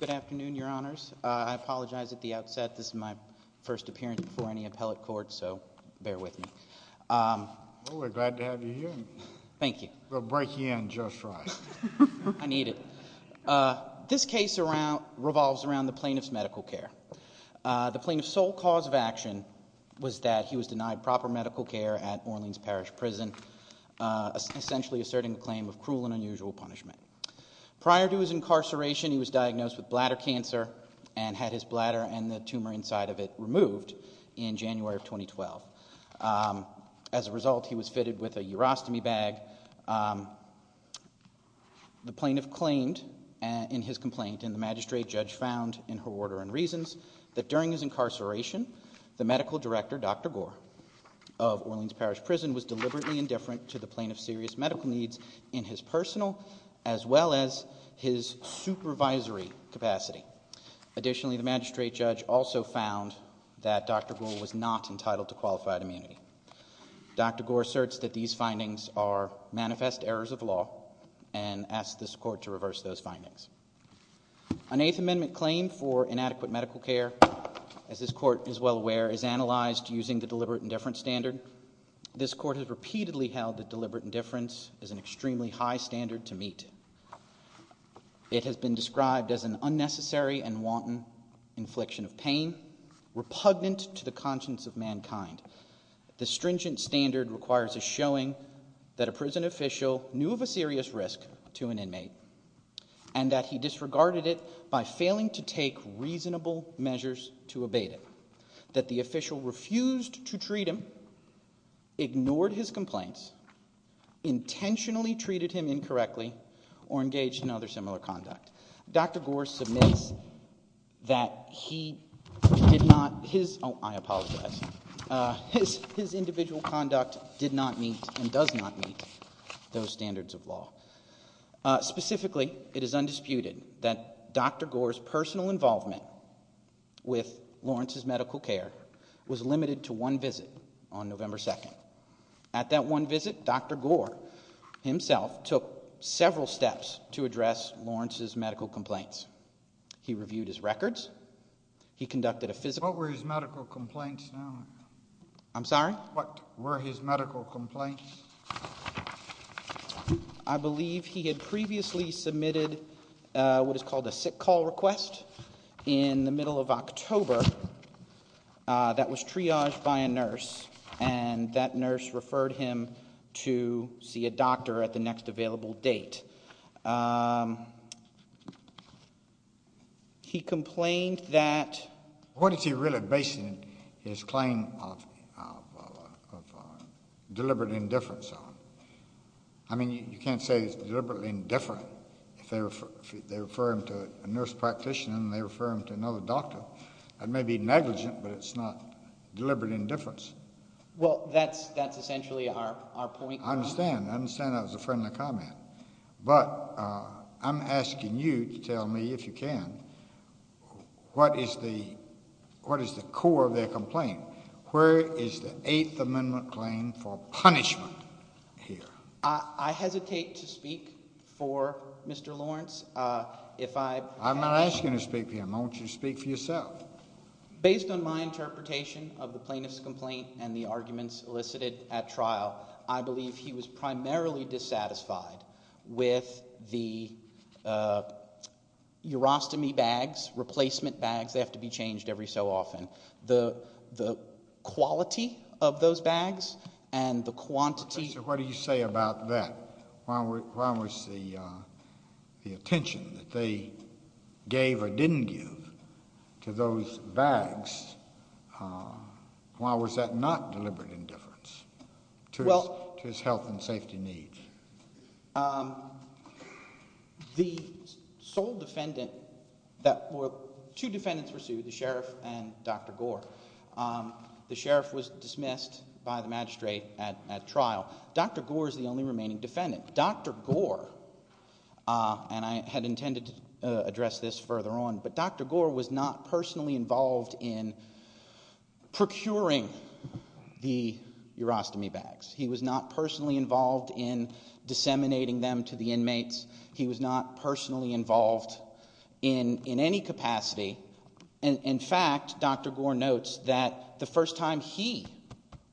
Good afternoon, your honors. I apologize at the outset, this is my first appearance before any appellate court, so bear with me. Well, we're glad to have you here. Thank you. We'll break in just right. I need it. This case revolves around the plaintiff's medical care. The plaintiff's sole cause of action was that he was denied proper medical care at Orleans Parish Prison, essentially asserting a claim of cruel and unusual punishment. Prior to his incarceration, he was diagnosed with bladder cancer and had his bladder and the tumor inside of it removed in January of 2012. As a result, he was fitted with a urostomy bag. The plaintiff claimed in his complaint and the magistrate judge found in her order and reasons that during his incarceration, the medical director, Dr. Gore, of Orleans Parish Prison was deliberately indifferent to the plaintiff's serious medical needs in his personal as well as his supervisory capacity. Additionally, the magistrate judge also found that Dr. Gore was not entitled to qualified immunity. Dr. Gore asserts that these findings are manifest errors of law and asks this court to reverse those findings. An Eighth Amendment claim for inadequate medical care, as this court is well aware, is analyzed using the deliberate indifference standard. This court has repeatedly held that deliberate indifference is an extremely high standard to meet. It has been described as an unnecessary and wanton infliction of pain, repugnant to the conscience of mankind. The stringent standard requires a showing that a prison official knew of a serious risk to an inmate and that he disregarded it by failing to take reasonable measures to abate it, that the official refused to treat him, ignored his complaints, intentionally treated him incorrectly, or engaged in other similar conduct. Dr. Gore submits that he did not, his, oh I apologize, his individual conduct did not meet and does not meet those standards of law. Specifically, it is undisputed that Dr. Gore's personal involvement with Lawrence's medical care was limited to one visit on November 2nd. At that one visit, Dr. Gore himself took several steps to address Lawrence's medical complaints. He reviewed his records, he conducted a physical... What were his medical complaints now? I'm sorry? What were his medical complaints? I believe he had previously submitted what is called a sick call request in the middle of October that was triaged by a nurse and that nurse referred him to see a doctor at the next available date. He complained that... I mean, you can't say he's deliberately indifferent if they refer him to a nurse practitioner and they refer him to another doctor. It may be negligent, but it's not deliberate indifference. Well, that's essentially our point. I understand. I understand that was a friendly comment. But I'm asking you to tell me, if you can, what is the core of their complaint? Where is the Eighth Amendment claim for punishment here? I hesitate to speak for Mr. Lawrence. If I... I'm not asking you to speak for him. Why don't you speak for yourself? Based on my interpretation of the plaintiff's complaint and the arguments elicited at trial, I believe he was primarily dissatisfied with the urostomy bags, replacement bags, they were not deliberate indifference to his health and safety needs. What do you say about that? Why was the attention that they gave or didn't give to those bags, why was that not deliberate indifference to his health and safety needs? The sole defendant that were... Two defendants were sued, the sheriff and Dr. Gore. The sheriff was dismissed by the magistrate at trial. Dr. Gore is the only remaining defendant. Dr. Gore, and I had intended to address this further on, but Dr. Gore was not personally involved in procuring the urostomy bags. He was not personally involved in disseminating them to the inmates. He was not personally involved in any capacity. In fact, Dr. Gore notes that the first time he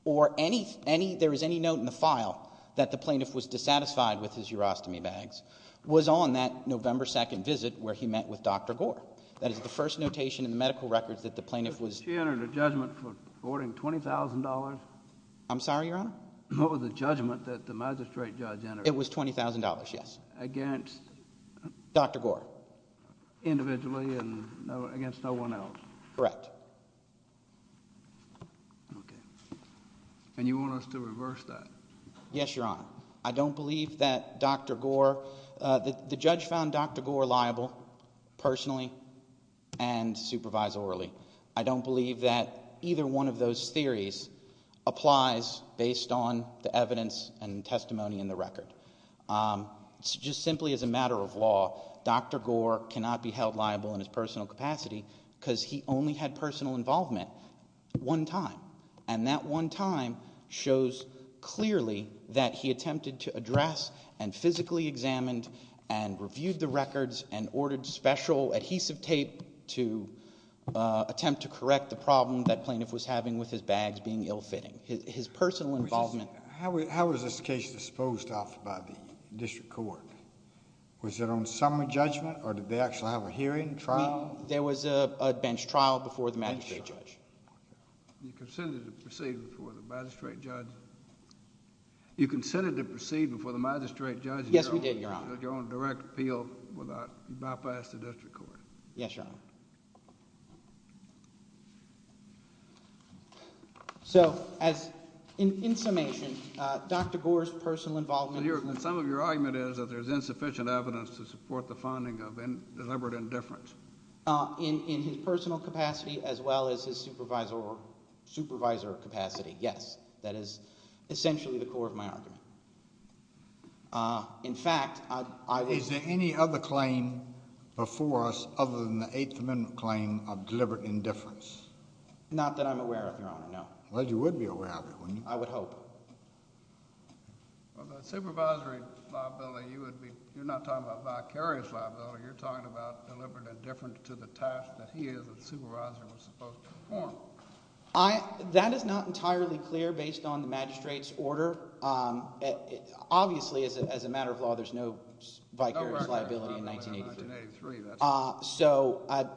or any, there was any note in the file that the plaintiff was dissatisfied with his urostomy bags was on that November 2nd visit where he met with Dr. Gore. That is the first notation in the medical records that the plaintiff was... She entered a judgment for awarding $20,000. I'm sorry, Your Honor? What was the judgment that the magistrate judge entered? It was $20,000, yes. Against... Dr. Gore. Individually and against no one else. Correct. Okay. And you want us to reverse that? Yes, Your Honor. I don't believe that Dr. Gore... The judge found Dr. Gore liable personally and supervisorially. I don't believe that either one of those theories applies based on the evidence and testimony in the record. Just simply as a matter of law, Dr. Gore cannot be held liable in his personal capacity because he only had personal involvement one time. And that one time shows clearly that he attempted to address and physically examined and reviewed the records and ordered special adhesive tape to attempt to correct the problem that plaintiff was having with his bags being ill-fitting. His personal involvement... How was this case disposed of by the district court? Was it on summary judgment or did they actually have a hearing, trial? There was a bench trial before the magistrate judge. You consented to proceed before the magistrate judge? You consented to proceed before the magistrate judge? Yes, we did, Your Honor. So you're on direct appeal without bypass to district court? Yes, Your Honor. So as in summation, Dr. Gore's personal involvement... And some of your argument is that there's insufficient evidence to support the finding of deliberate indifference. In his personal capacity as well as his supervisor capacity, yes. That is essentially the core of my argument. In fact, I... Is there any other claim before us other than the Eighth Amendment claim of deliberate indifference? Not that I'm aware of, Your Honor, no. Well, you would be aware of it, wouldn't you? I would hope. Well, the supervisory liability, you would be... You're not talking about vicarious liability. You're talking about deliberate indifference to the task that he, as a supervisor, was supposed to perform. That is not entirely clear based on the magistrate's order. Obviously, as a matter of law, there's no vicarious liability in 1983. No record of that in 1983. So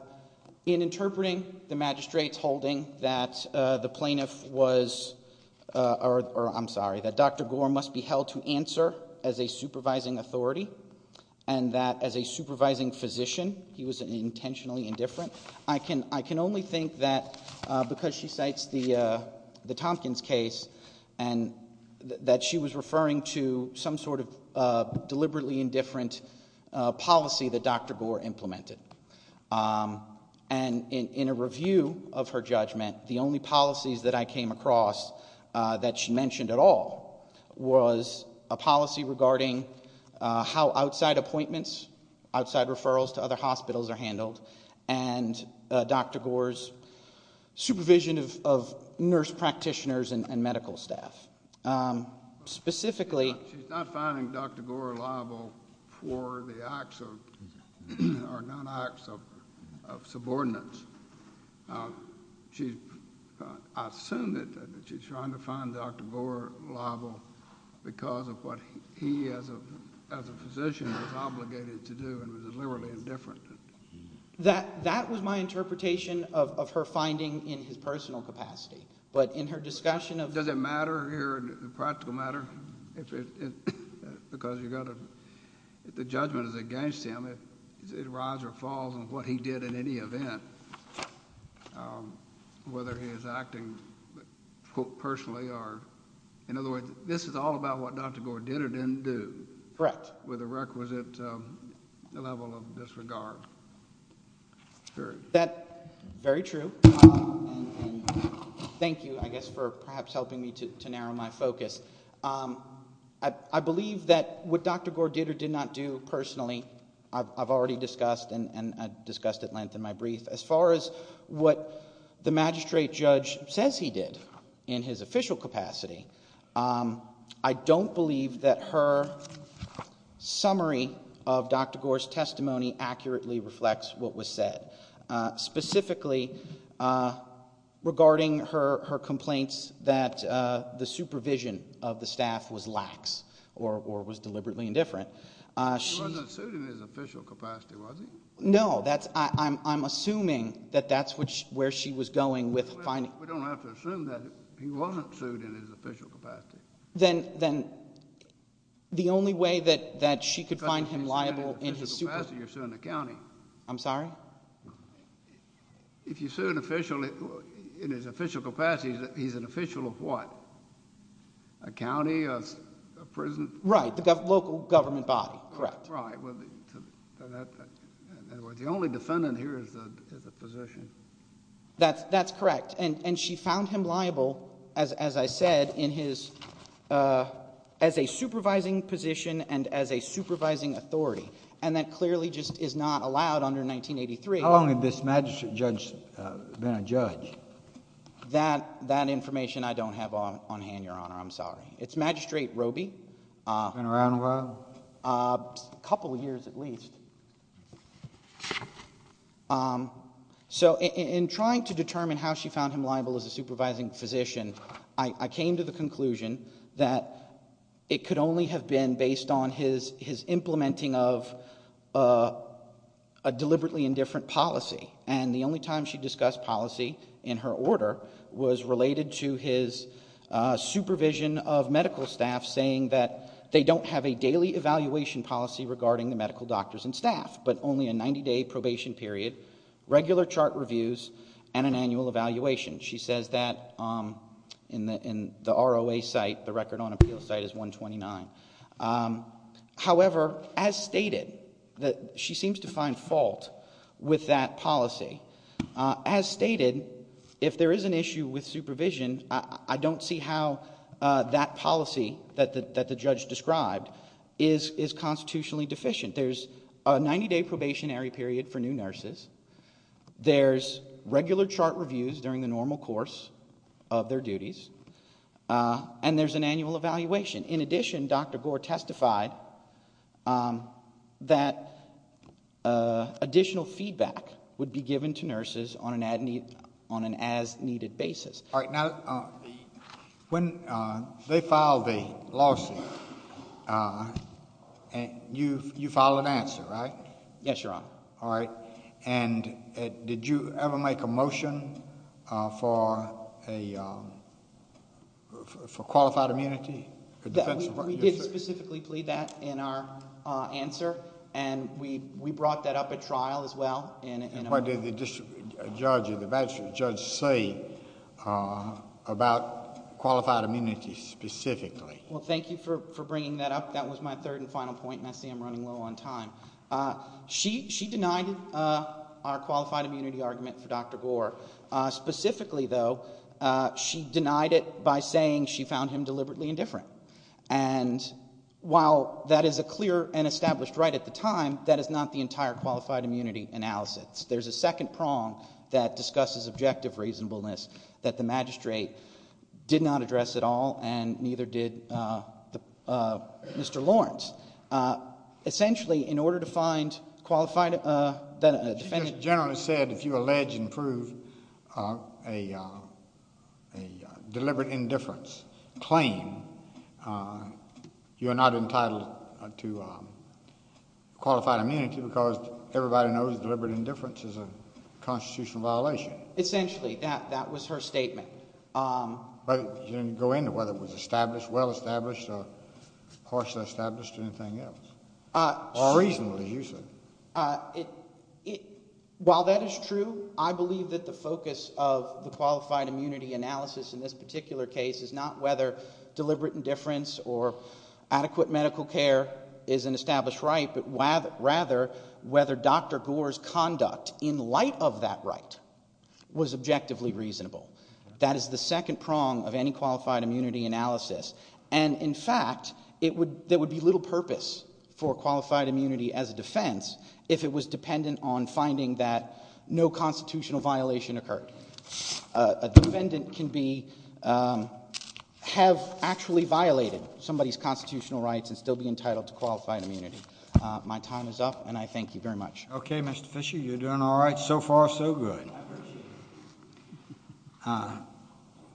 in interpreting the magistrate's holding that the plaintiff was... Or I'm sorry, that Dr. Gore must be held to answer as a supervising authority and that as a supervising physician he was intentionally indifferent, I can only think that because she cites the Tompkins case and that she was referring to some sort of deliberately indifferent policy that Dr. Gore implemented. And in a review of her judgment, the only policies that I came across that she mentioned at all was a policy regarding how outside appointments, outside referrals to other hospitals are handled and Dr. Gore's supervision of nurse practitioners and medical staff. Specifically... She's not finding Dr. Gore liable for the acts of... Or non-acts of subordinates. She's... I assume that she's trying to find Dr. Gore liable because of what he, as a physician, was obligated to do and was deliberately indifferent. That was my interpretation of her finding in his personal capacity. But in her discussion of... Does it matter here, a practical matter, if it... Because you've got to... If the judgment is against him, it's a rise or fall of what he did in any event, whether he is acting personally or... In other words, this is all about what Dr. Gore did or didn't do. Correct. With a requisite level of disregard. Very true. And thank you, I guess, for perhaps helping me to narrow my focus. I believe that what Dr. Gore did or did not do personally, I've already discussed and discussed at length in my brief. As far as what the magistrate judge says he did in his official capacity, I don't believe that her summary of Dr. Gore's testimony accurately reflects what was said. Specifically, regarding her complaints that the supervision of the staff was lax or was deliberately indifferent, she... He wasn't sued in his official capacity, was he? No, that's... I'm assuming that that's where she was going with finding... We don't have to assume that he wasn't sued in his official capacity. Then the only way that she could find him liable in his supervision... Because if he's not in his official capacity, you're suing the county. I'm sorry? If you sue an official in his official capacity, he's an official of what? A county, a prison? Right, the local government body. Correct. Right. In other words, the only defendant here is the physician. That's correct. And she found him liable, as I said, as a supervising position and as a supervising authority. And that clearly just is not allowed under 1983. How long had this magistrate judge been a judge? That information I don't have on hand, Your Honor. I'm sorry. It's Magistrate Roby. Been around a while? A couple years at least. So in trying to determine how she found him liable as a supervising physician, I came to the conclusion that it could only have been based on his implementing of a deliberately indifferent policy. And the only time she discussed policy in her order was related to his supervision of medical staff saying that they don't have a daily evaluation policy regarding the medical doctors and staff, but only a 90-day probation period, regular chart reviews, and an annual evaluation. She says that in the ROA site, the record on appeal site is 129. However, as stated, she seems to find fault with that policy. As stated, if there is an issue with supervision, I don't see how that policy that the judge described is constitutionally deficient. There's a 90-day probationary period for new nurses. There's regular chart reviews during the normal course of their duties. And there's an annual evaluation. In addition, Dr. Gore testified that additional feedback would be given to nurses on an as-needed basis. All right, now, when they filed the lawsuit, you filed an answer, right? Yes, Your Honor. All right, and did you ever make a motion for qualified immunity? We did specifically plead that in our answer, and we brought that up at trial as well. And what did the judge say about qualified immunity specifically? Well, thank you for bringing that up. That was my third and final point, and I see I'm running low on time. She denied our qualified immunity argument for Dr. Gore. Specifically, though, she denied it by saying she found him deliberately indifferent. And while that is a clear and established right at the time, that is not the entire qualified immunity analysis. There's a second prong that discusses objective reasonableness that the magistrate did not address at all, and neither did Mr. Lawrence. Essentially, in order to find qualified immunity. She just generally said if you allege and prove a deliberate indifference claim, you are not entitled to qualified immunity because everybody knows deliberate indifference is a constitutional violation. Essentially, that was her statement. But you didn't go into whether it was established, well-established, or partially established or anything else? Or reasonably, you said. While that is true, I believe that the focus of the qualified immunity analysis in this particular case is not whether deliberate indifference or adequate medical care is an established right, but rather whether Dr. Gore's conduct in light of that right was objectively reasonable. That is the second prong of any qualified immunity analysis. And in fact, there would be little purpose for qualified immunity as a defense if it was dependent on finding that no constitutional violation occurred. A defendant can have actually violated somebody's constitutional rights and still be entitled to qualified immunity. My time is up, and I thank you very much. Okay, Mr. Fisher, you're doing all right so far, so good. I appreciate it.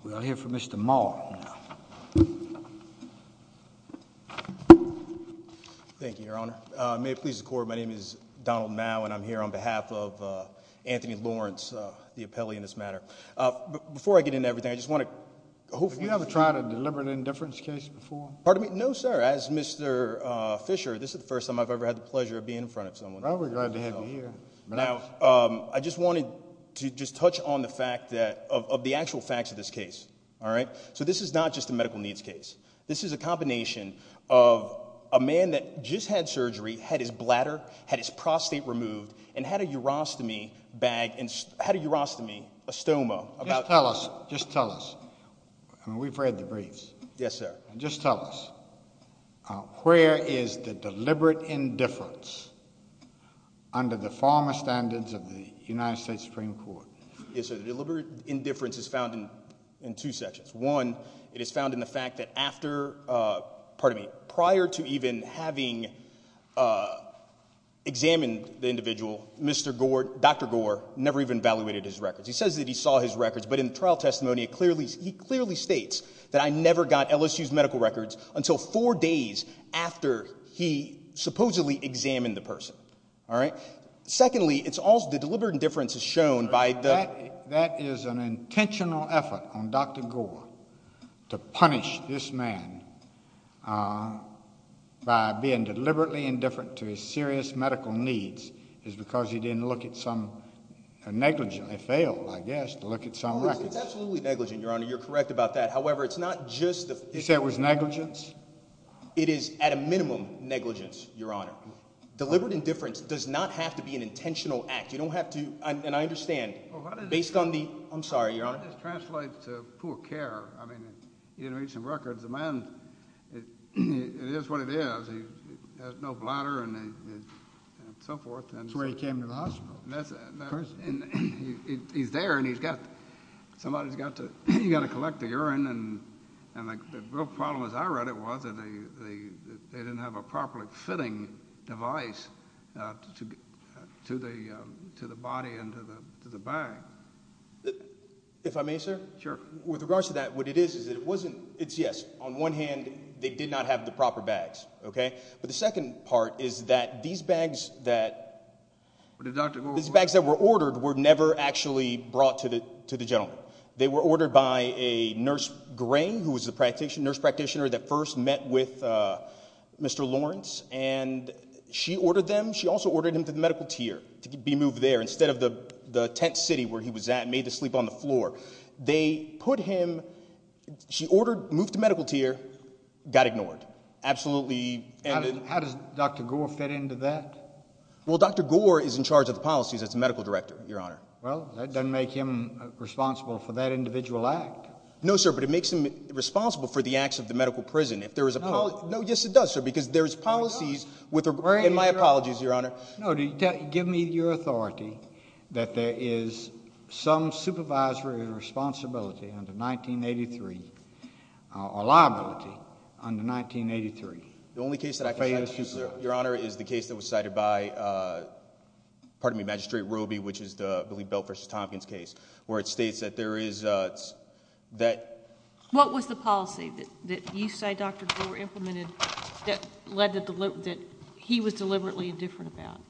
We'll hear from Mr. Maul now. Thank you, Your Honor. May it please the Court, my name is Donald Maul, and I'm here on behalf of Anthony Lawrence, the appellee in this matter. Before I get into everything, I just want to hopefully- Have you ever tried a deliberate indifference case before? Pardon me? No, sir. As Mr. Fisher, this is the first time I've ever had the pleasure of being in front of someone. Well, we're glad to have you here. Now, I just wanted to just touch on the fact that, of the actual facts of this case, all right? So this is not just a medical needs case. This is a combination of a man that just had surgery, had his bladder, had his prostate removed, and had a urostomy bag and had a urostomy, a stoma. Just tell us, just tell us. I mean, we've read the briefs. Yes, sir. Just tell us, where is the deliberate indifference under the former standards of the United States Supreme Court? Yes, sir, deliberate indifference is found in two sections. One, it is found in the fact that after-pardon me-prior to even having examined the individual, Dr. Gore never even evaluated his records. He says that he saw his records, but in the trial testimony, he clearly states that I never got LSU's medical records until four days after he supposedly examined the person. All right? Secondly, it's also-the deliberate indifference is shown by the- to punish this man by being deliberately indifferent to his serious medical needs is because he didn't look at some-negligently failed, I guess, to look at some records. It's absolutely negligent, Your Honor. You're correct about that. However, it's not just the- You said it was negligence? It is, at a minimum, negligence, Your Honor. Deliberate indifference does not have to be an intentional act. You don't have to-and I understand, based on the-I'm sorry, Your Honor. That just translates to poor care. I mean, he didn't read some records. The man, it is what it is. He has no bladder and so forth. That's where he came to the hospital. And he's there, and he's got-somebody's got to-he's got to collect the urine, and the real problem, as I read it, was that they didn't have a properly fitting device to the body and to the bag. If I may, sir? Sure. With regards to that, what it is is that it wasn't-it's, yes, on one hand, they did not have the proper bags, okay? But the second part is that these bags that- But the doctor- These bags that were ordered were never actually brought to the gentleman. They were ordered by a nurse, Grain, who was a nurse practitioner that first met with Mr. Lawrence, and she ordered them. She also ordered him to the medical tier to be moved there instead of the tent city where he was at and made to sleep on the floor. They put him-she ordered-moved to medical tier, got ignored. Absolutely- How does Dr. Gore fit into that? Well, Dr. Gore is in charge of the policies as the medical director, Your Honor. Well, that doesn't make him responsible for that individual act. No, sir, but it makes him responsible for the acts of the medical prison. No. No, yes, it does, sir, because there's policies with- No, give me your authority that there is some supervisory responsibility under 1983 or liability under 1983. The only case that I can say, Your Honor, is the case that was cited by, pardon me, Magistrate Roby, which is the, I believe, Bell v. Tompkins case, where it states that there is that- What was the policy that you say Dr. Gore implemented that led to-that he was deliberately indifferent about?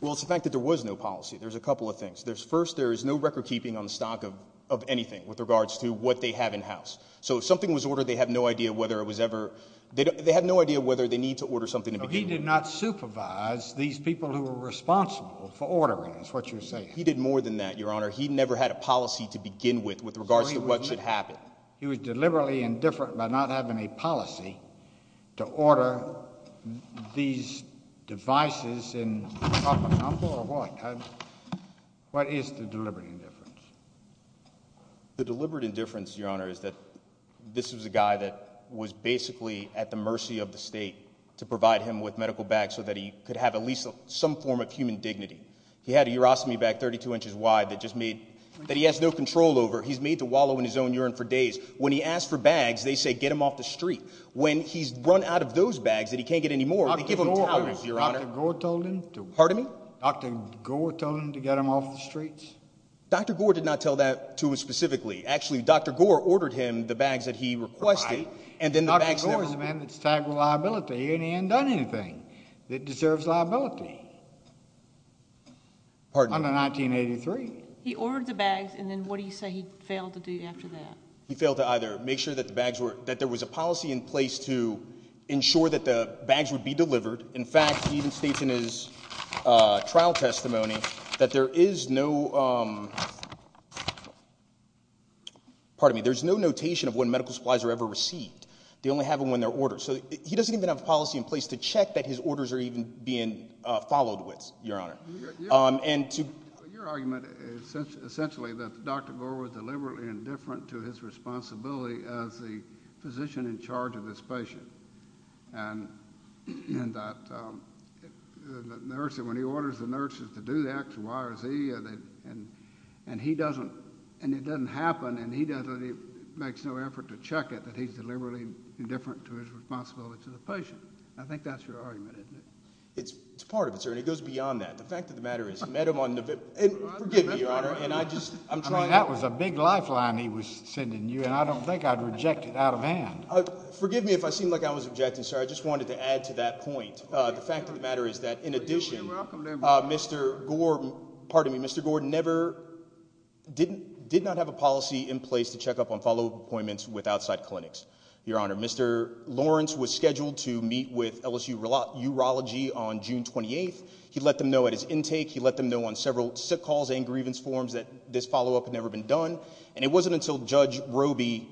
Well, it's the fact that there was no policy. There's a couple of things. First, there is no recordkeeping on the stock of anything with regards to what they have in-house. So if something was ordered, they have no idea whether it was ever-they have no idea whether they need to order something to begin with. So he did not supervise these people who were responsible for ordering, is what you're saying? He did more than that, Your Honor. He never had a policy to begin with with regards to what should happen. He was deliberately indifferent by not having a policy to order these devices in proper number or what? What is the deliberate indifference? The deliberate indifference, Your Honor, is that this was a guy that was basically at the mercy of the state to provide him with medical bags so that he could have at least some form of human dignity. He had a urostomy bag 32 inches wide that just made-that he has no control over. He's made to wallow in his own urine for days. When he asked for bags, they say, get him off the street. When he's run out of those bags that he can't get anymore, they give him a tolerance, Your Honor. Dr. Gore told him to- Pardon me? Dr. Gore told him to get him off the streets? Dr. Gore did not tell that to us specifically. Actually, Dr. Gore ordered him the bags that he requested, and then the bags never- Dr. Gore is a man that's tagged with liability, and he hasn't done anything that deserves liability. Pardon me? Under 1983. He ordered the bags, and then what do you say he failed to do after that? He failed to either make sure that the bags were-that there was a policy in place to ensure that the bags would be delivered. In fact, he even states in his trial testimony that there is no-pardon me. There's no notation of when medical supplies are ever received. They only have them when they're ordered. So he doesn't even have a policy in place to check that his orders are even being followed with, Your Honor. Your argument is essentially that Dr. Gore was deliberately indifferent to his responsibility as the physician in charge of his patient, and that when he orders the nurses to do X, Y, or Z, and it doesn't happen, and he makes no effort to check it, that he's deliberately indifferent to his responsibility to the patient. I think that's your argument, isn't it? It's part of it, sir, and it goes beyond that. The fact of the matter is he met him on November-forgive me, Your Honor, and I just- I mean, that was a big lifeline he was sending you, and I don't think I'd reject it out of hand. Forgive me if I seem like I was objecting, sir. I just wanted to add to that point. The fact of the matter is that, in addition, Mr. Gore-pardon me-Mr. Gore never-did not have a policy in place to check up on follow-up appointments with outside clinics, Your Honor. Mr. Lawrence was scheduled to meet with LSU Urology on June 28th. He let them know at his intake. He let them know on several sick calls and grievance forms that this follow-up had never been done, and it wasn't until Judge Roby,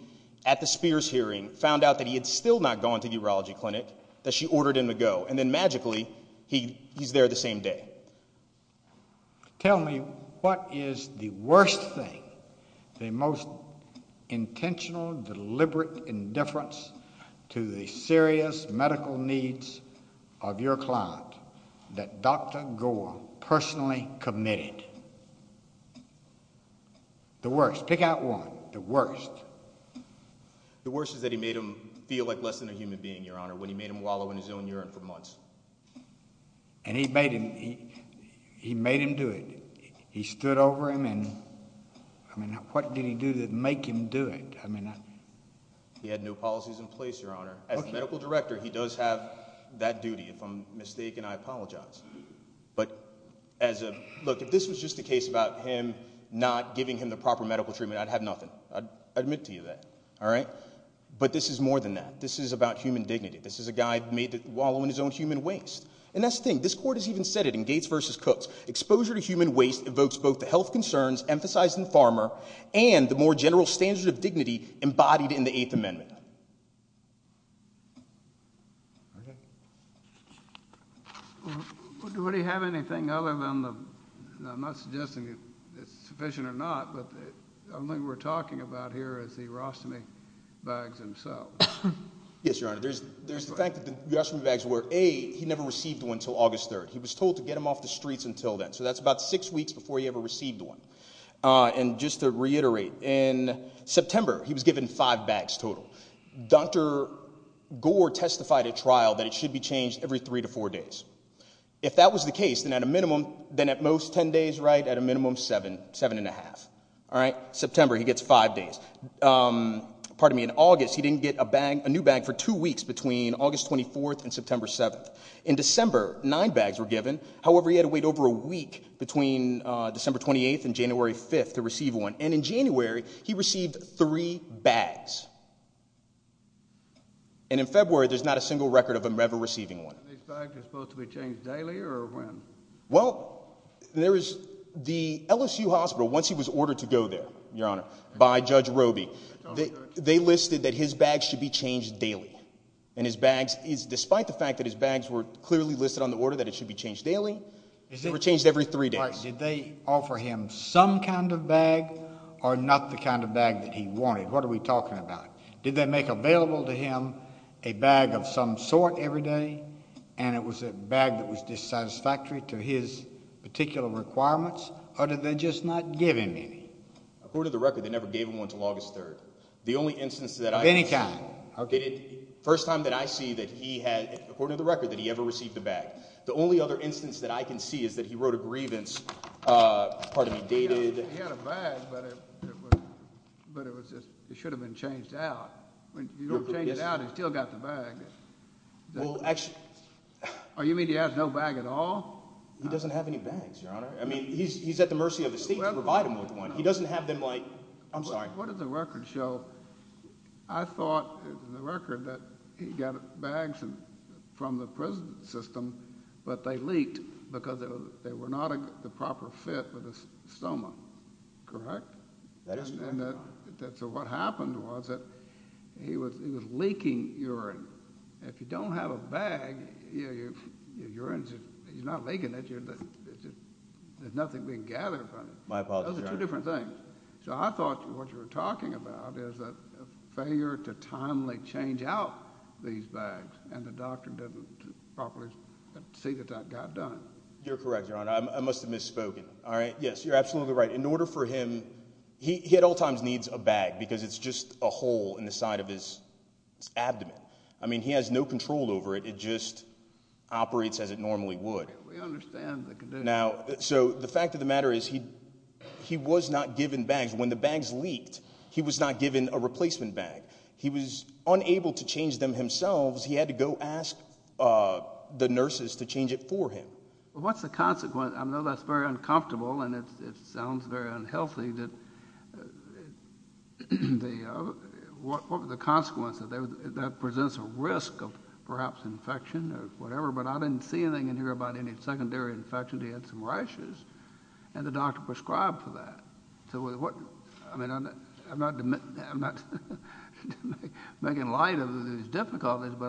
at the Spears hearing, found out that he had still not gone to the urology clinic that she ordered him to go, and then, magically, he's there the same day. Tell me what is the worst thing, the most intentional, deliberate indifference to the serious medical needs of your client that Dr. Gore personally committed? The worst. Pick out one. The worst. The worst is that he made him feel like less than a human being, Your Honor, when he made him wallow in his own urine for months. And he made him do it. He stood over him and, I mean, what did he do to make him do it? He had no policies in place, Your Honor. As medical director, he does have that duty, if I'm mistaken. I apologize. But as a-look, if this was just a case about him not giving him the proper medical treatment, I'd have nothing. I'd admit to you that. All right? But this is more than that. This is about human dignity. This is a guy made to wallow in his own human waste, and that's the thing. This court has even said it in Gates v. Cooks. Exposure to human waste evokes both the health concerns emphasized in Farmer and the more general standards of dignity embodied in the Eighth Amendment. Do we have anything other than the-I'm not suggesting it's sufficient or not, but the only thing we're talking about here is the arostomy bags themselves. Yes, Your Honor. There's the fact that the arostomy bags were, A, he never received one until August 3rd. He was told to get them off the streets until then. So that's about six weeks before he ever received one. And just to reiterate, in September he was given five bags total. Dr. Gore testified at trial that it should be changed every three to four days. If that was the case, then at a minimum, then at most ten days, right, at a minimum seven, seven and a half. All right? September he gets five days. Pardon me, in August he didn't get a new bag for two weeks between August 24th and September 7th. In December nine bags were given. However, he had to wait over a week between December 28th and January 5th to receive one. And in January he received three bags. And in February there's not a single record of him ever receiving one. These bags are supposed to be changed daily or when? Well, there is the LSU hospital, once he was ordered to go there, Your Honor, by Judge Roby, they listed that his bags should be changed daily. And his bags, despite the fact that his bags were clearly listed on the order that it should be changed daily, they were changed every three days. Did they offer him some kind of bag or not the kind of bag that he wanted? What are we talking about? Did they make available to him a bag of some sort every day and it was a bag that was dissatisfactory to his particular requirements, or did they just not give him any? According to the record, they never gave him one until August 3rd. The only instance that I can see. Of any kind? First time that I see that he had, according to the record, that he ever received a bag. The only other instance that I can see is that he wrote a grievance, pardon me, dated. He had a bag, but it should have been changed out. When you don't change it out, he still got the bag. Well, actually. Oh, you mean he has no bag at all? He doesn't have any bags, Your Honor. I mean, he's at the mercy of the state to provide him with one. He doesn't have them like, I'm sorry. What did the record show? I thought in the record that he got bags from the prison system, but they leaked because they were not the proper fit for the stoma. Correct? That is correct, Your Honor. So what happened was that he was leaking urine. If you don't have a bag, you're not leaking it. There's nothing we can gather from it. My apologies, Your Honor. Those are two different things. So I thought what you were talking about is a failure to timely change out these bags, and the doctor didn't properly see that that got done. You're correct, Your Honor. I must have misspoken. All right? Yes, you're absolutely right. In order for him, he at all times needs a bag because it's just a hole in the side of his abdomen. I mean, he has no control over it. It just operates as it normally would. We understand the condition. Now, so the fact of the matter is he was not given bags. When the bags leaked, he was not given a replacement bag. He was unable to change them himself. He had to go ask the nurses to change it for him. Well, what's the consequence? I know that's very uncomfortable, and it sounds very unhealthy, but what were the consequences? That presents a risk of perhaps infection or whatever, but I didn't see anything in here about any secondary infections. He had some rashes, and the doctor prescribed for that. So, I mean, I'm not making light of these difficulties, but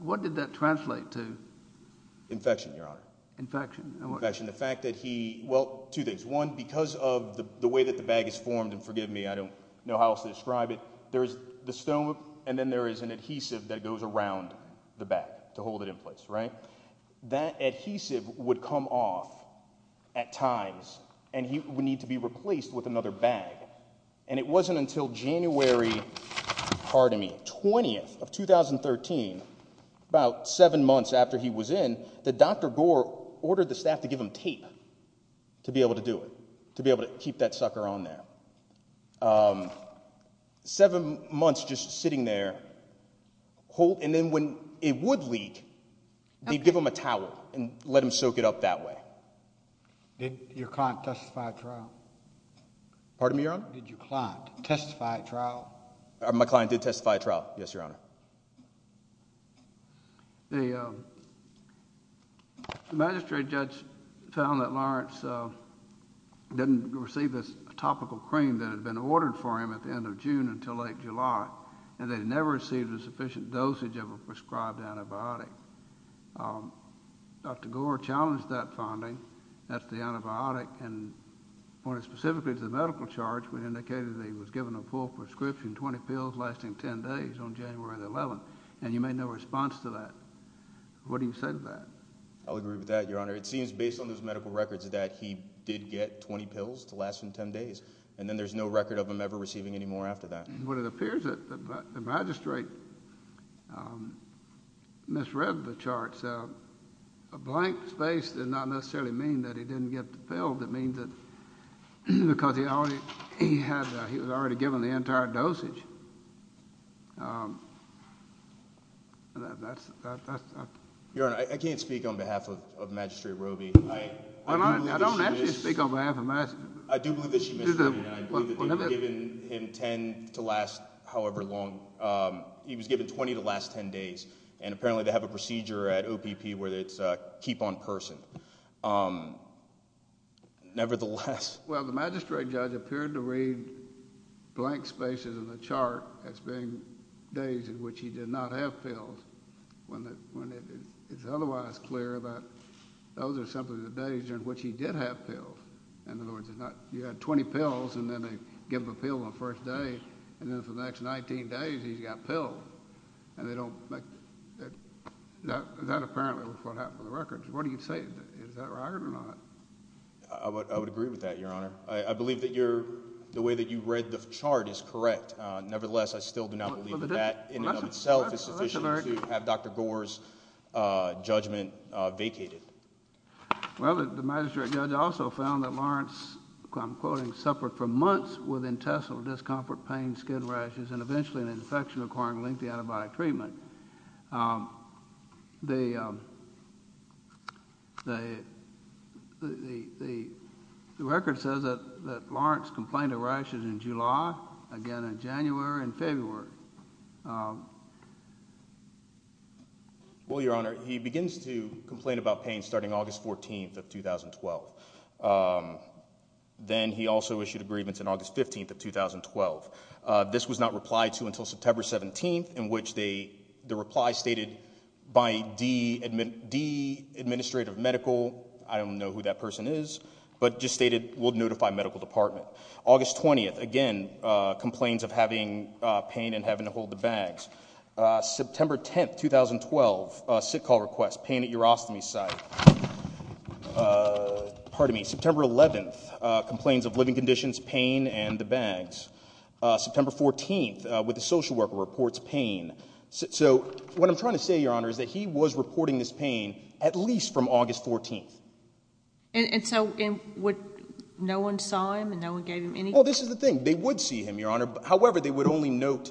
what did that translate to? Infection, Your Honor. Infection. Infection, the fact that he – well, two things. One, because of the way that the bag is formed, and forgive me, I don't know how else to describe it, there is the stone, and then there is an adhesive that goes around the bag to hold it in place, right? That adhesive would come off at times, and he would need to be replaced with another bag. And it wasn't until January 20th of 2013, about seven months after he was in, that Dr. Gore ordered the staff to give him tape to be able to do it, to be able to keep that sucker on there. Seven months just sitting there, and then when it would leak, they'd give him a towel and let him soak it up that way. Did your client testify at trial? Pardon me, Your Honor? Did your client testify at trial? My client did testify at trial, yes, Your Honor. The magistrate judge found that Lawrence didn't receive his topical cream that had been ordered for him at the end of June until late July, and they'd never received a sufficient dosage of a prescribed antibiotic. Dr. Gore challenged that finding, that's the antibiotic, and pointed specifically to the medical charge, which indicated that he was given a full prescription, 20 pills lasting 10 days on January 11th, and you made no response to that. What do you say to that? I'll agree with that, Your Honor. It seems based on those medical records that he did get 20 pills to last him 10 days, and then there's no record of him ever receiving any more after that. Well, it appears that the magistrate misread the charts. A blank space did not necessarily mean that he didn't get the pill. It means that because he was already given the entire dosage. Your Honor, I can't speak on behalf of Magistrate Robey. I don't actually speak on behalf of Magistrate Robey. I do believe that she misread it. I believe that they had given him 10 to last however long. He was given 20 to last 10 days, and apparently they have a procedure at OPP where it's keep on person. Nevertheless— Well, the magistrate judge appeared to read blank spaces in the chart as being days in which he did not have pills when it's otherwise clear that those are simply the days in which he did have pills. In other words, you had 20 pills, and then they give him a pill on the first day, and then for the next 19 days he's got pills, and they don't make— that apparently is what happened in the records. What do you say? Is that right or not? I would agree with that, Your Honor. I believe that the way that you read the chart is correct. Nevertheless, I still do not believe that that in and of itself is sufficient to have Dr. Gore's judgment vacated. Well, the magistrate judge also found that Lawrence, I'm quoting, suffered for months with intestinal discomfort, pain, skin rashes, and eventually an infection requiring lengthy antibiotic treatment. The record says that Lawrence complained of rashes in July, again in January and February. Well, Your Honor, he begins to complain about pain starting August 14th of 2012. Then he also issued a grievance on August 15th of 2012. This was not replied to until September 17th, in which the reply stated, by D Administrative Medical—I don't know who that person is— but just stated, we'll notify medical department. August 20th, again, complaints of having pain and having to hold the bags. September 10th, 2012, sick call request, pain at urostomy site. September 11th, complaints of living conditions, pain, and the bags. September 14th, when the social worker reports pain. So what I'm trying to say, Your Honor, is that he was reporting this pain at least from August 14th. And so no one saw him and no one gave him any— Well, this is the thing. They would see him, Your Honor. However, they would only note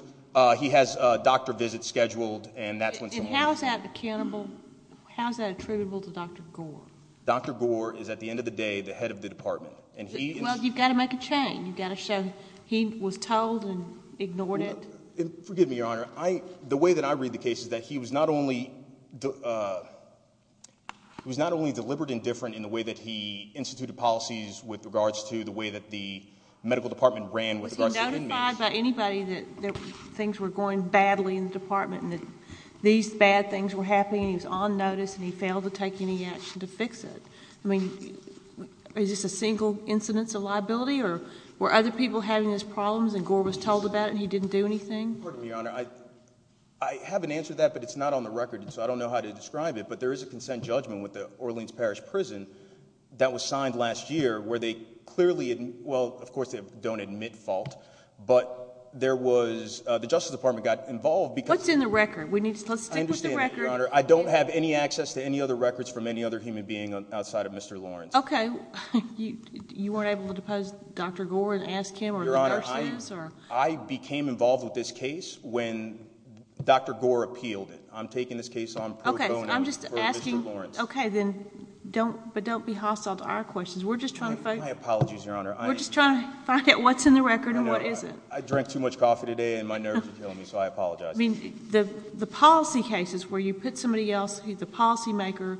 he has a doctor visit scheduled and that's when someone— And how is that attributable to Dr. Gore? Dr. Gore is, at the end of the day, the head of the department. Well, you've got to make a chain. You've got to show he was told and ignored it. Forgive me, Your Honor. The way that I read the case is that he was not only deliberate and different in the way that he instituted policies with regards to the way that the medical department ran with regards to the inmates— Was he notified by anybody that things were going badly in the department and that these bad things were happening and he was on notice and he failed to take any action to fix it? I mean, is this a single incidence of liability or were other people having these problems and Gore was told about it and he didn't do anything? Pardon me, Your Honor. I haven't answered that, but it's not on the record, so I don't know how to describe it, but there is a consent judgment with the Orleans Parish Prison that was signed last year where they clearly— well, of course, they don't admit fault, but there was—the Justice Department got involved because— What's in the record? Let's stick with the record. I understand, Your Honor. I don't have any access to any other records from any other human being outside of Mr. Lawrence. Okay. You weren't able to depose Dr. Gore and ask him or the nurses or— I became involved with this case when Dr. Gore appealed it. I'm taking this case on pro bono for Mr. Lawrence. Okay. I'm just asking—okay, but don't be hostile to our questions. We're just trying to find— My apologies, Your Honor. We're just trying to find out what's in the record and what isn't. I know. I drank too much coffee today and my nerves are killing me, so I apologize. I mean, the policy cases where you put somebody else who's a policymaker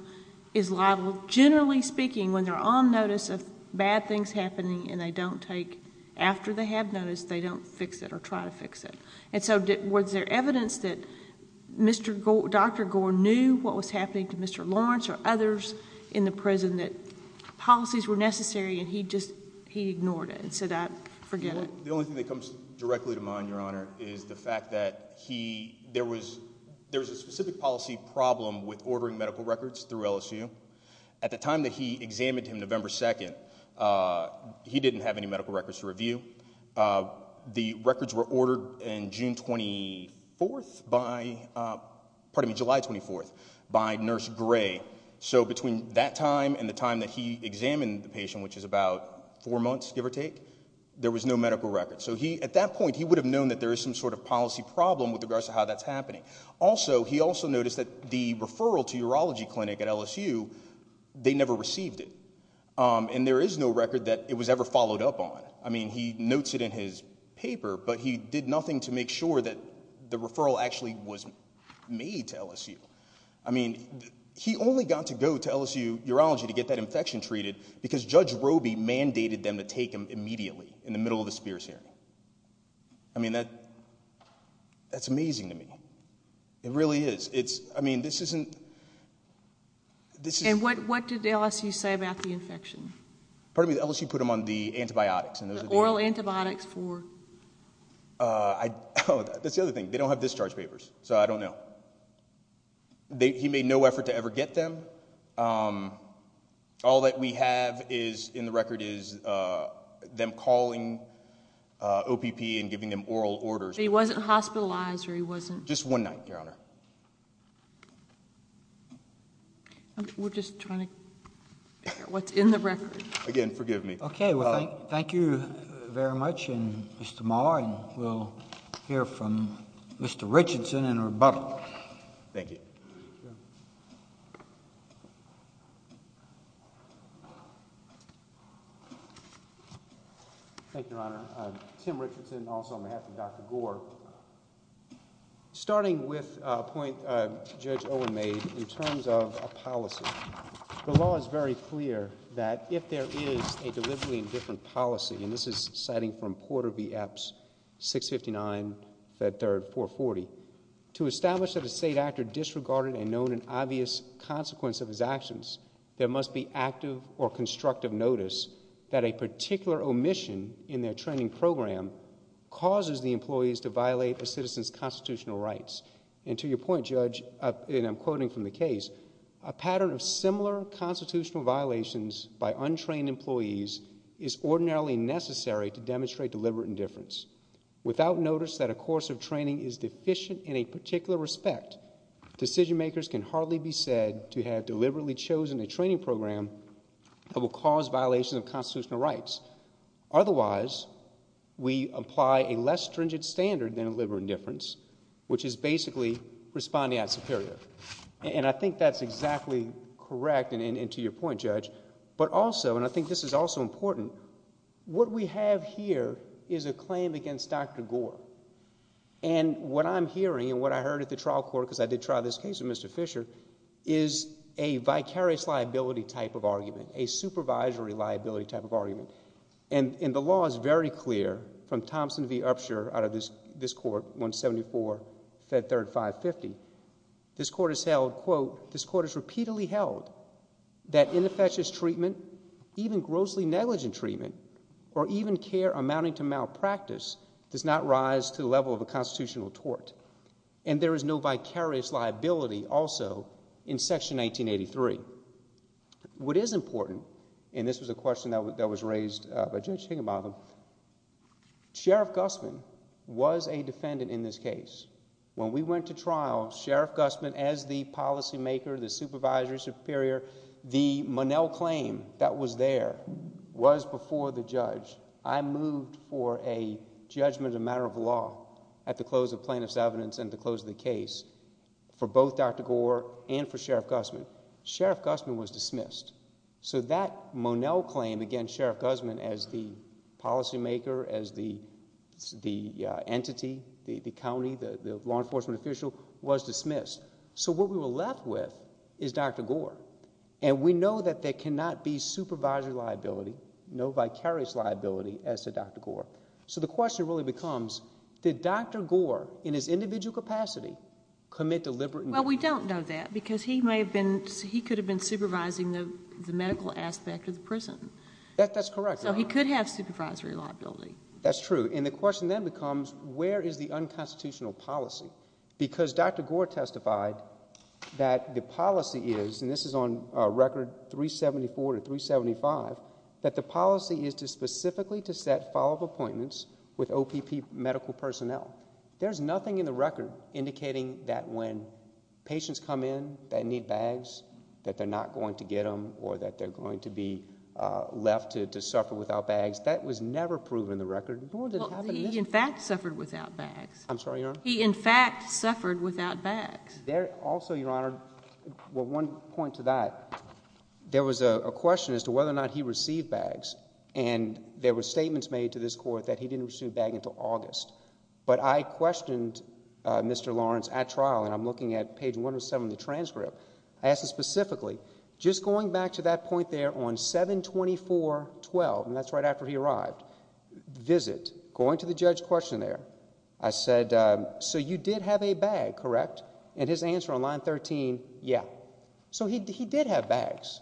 is liable, generally speaking, when they're on notice of bad things happening and they don't take— fix it or try to fix it. And so was there evidence that Dr. Gore knew what was happening to Mr. Lawrence or others in the prison that policies were necessary and he just—he ignored it and said, I forget it? The only thing that comes directly to mind, Your Honor, is the fact that he— there was a specific policy problem with ordering medical records through LSU. At the time that he examined him, November 2nd, he didn't have any medical records to review. The records were ordered in June 24th by—pardon me, July 24th by Nurse Gray. So between that time and the time that he examined the patient, which is about four months, give or take, there was no medical record. So he—at that point, he would have known that there was some sort of policy problem with regards to how that's happening. Also, he also noticed that the referral to urology clinic at LSU, they never received it. And there is no record that it was ever followed up on. I mean, he notes it in his paper, but he did nothing to make sure that the referral actually was made to LSU. I mean, he only got to go to LSU Urology to get that infection treated because Judge Roby mandated them to take him immediately in the middle of the Spears hearing. I mean, that's amazing to me. It really is. I mean, this isn't— And what did LSU say about the infection? Pardon me, LSU put him on the antibiotics. The oral antibiotics for? Oh, that's the other thing. They don't have discharge papers, so I don't know. He made no effort to ever get them. All that we have in the record is them calling OPP and giving them oral orders. He wasn't hospitalized or he wasn't— Just one night, Your Honor. We're just trying to hear what's in the record. Again, forgive me. Okay. Well, thank you very much. And Mr. Maher, we'll hear from Mr. Richardson in rebuttal. Thank you. Thank you, Your Honor. Tim Richardson, also on behalf of Dr. Gore. Starting with a point Judge Owen made in terms of a policy, the law is very clear that if there is a deliberately indifferent policy, and this is citing from Porter v. Epps, 659, that third, 440, to establish that a state actor disregarded and known an obvious consequence of his actions, there must be active or constructive notice that a particular omission in their training program causes the employees to violate a citizen's constitutional rights. And to your point, Judge, and I'm quoting from the case, a pattern of similar constitutional violations by untrained employees is ordinarily necessary to demonstrate deliberate indifference. Without notice that a course of training is deficient in a particular respect, decision makers can hardly be said to have deliberately chosen a training program that will cause violations of constitutional rights. Otherwise, we apply a less stringent standard than deliberate indifference, which is basically responding as superior. And I think that's exactly correct, and to your point, Judge. But also, and I think this is also important, what we have here is a claim against Dr. Gore. And what I'm hearing and what I heard at the trial court, because I did try this case with Mr. Fisher, is a vicarious liability type of argument, a supervisory liability type of argument. And the law is very clear from Thompson v. Upshur out of this court, 174, Fed Third 550. This court has held, quote, This court has repeatedly held that ineffectious treatment, even grossly negligent treatment, or even care amounting to malpractice does not rise to the level of a constitutional tort. And there is no vicarious liability also in Section 1983. What is important, and this was a question that was raised by Judge Higginbotham, Sheriff Gussman was a defendant in this case. When we went to trial, Sheriff Gussman as the policymaker, the supervisory superior, the Monell claim that was there was before the judge. I moved for a judgment of matter of law at the close of plaintiff's evidence and at the close of the case for both Dr. Gore and for Sheriff Gussman. Sheriff Gussman was dismissed. So that Monell claim against Sheriff Gussman as the policymaker, as the entity, the county, the law enforcement official, was dismissed. So what we were left with is Dr. Gore. And we know that there cannot be supervisory liability, no vicarious liability as to Dr. Gore. So the question really becomes, did Dr. Gore in his individual capacity commit deliberate neglect? Well, we don't know that because he could have been supervising the medical aspect of the prison. That's correct. So he could have supervisory liability. That's true. And the question then becomes, where is the unconstitutional policy? Because Dr. Gore testified that the policy is, and this is on Record 374 or 375, that the policy is specifically to set follow-up appointments with OPP medical personnel. There's nothing in the record indicating that when patients come in that need bags, that they're not going to get them or that they're going to be left to suffer without bags. That was never proven on the record. Well, he, in fact, suffered without bags. I'm sorry, Your Honor? He, in fact, suffered without bags. Also, Your Honor, one point to that, there was a question as to whether or not he received bags. And there were statements made to this court that he didn't receive a bag until August. But I questioned Mr. Lawrence at trial, and I'm looking at page 107 of the transcript. I asked him specifically, just going back to that point there on 724.12, and that's right after he arrived, visit, going to the judge's questionnaire, I said, so you did have a bag, correct? And his answer on line 13, yeah. So he did have bags.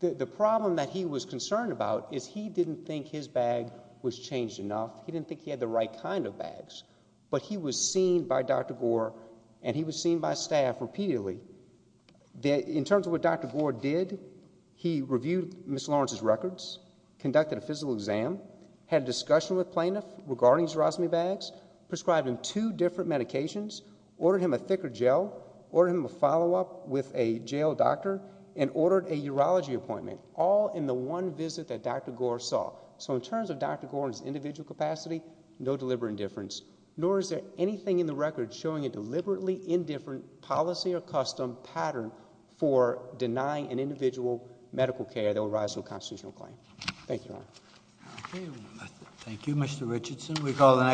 The problem that he was concerned about is he didn't think his bag was changed enough. He didn't think he had the right kind of bags. But he was seen by Dr. Gore, and he was seen by staff repeatedly. In terms of what Dr. Gore did, he reviewed Ms. Lawrence's records, conducted a physical exam, had a discussion with plaintiffs regarding his Erosme bags, prescribed him two different medications, ordered him a thicker gel, ordered him a follow-up with a jail doctor, and ordered a urology appointment, all in the one visit that Dr. Gore saw. So in terms of Dr. Gore's individual capacity, no deliberate indifference, nor is there anything in the record showing a deliberately indifferent policy or custom pattern for denying an individual medical care that will rise to a constitutional claim. Thank you, Your Honor. Thank you, Mr. Richardson.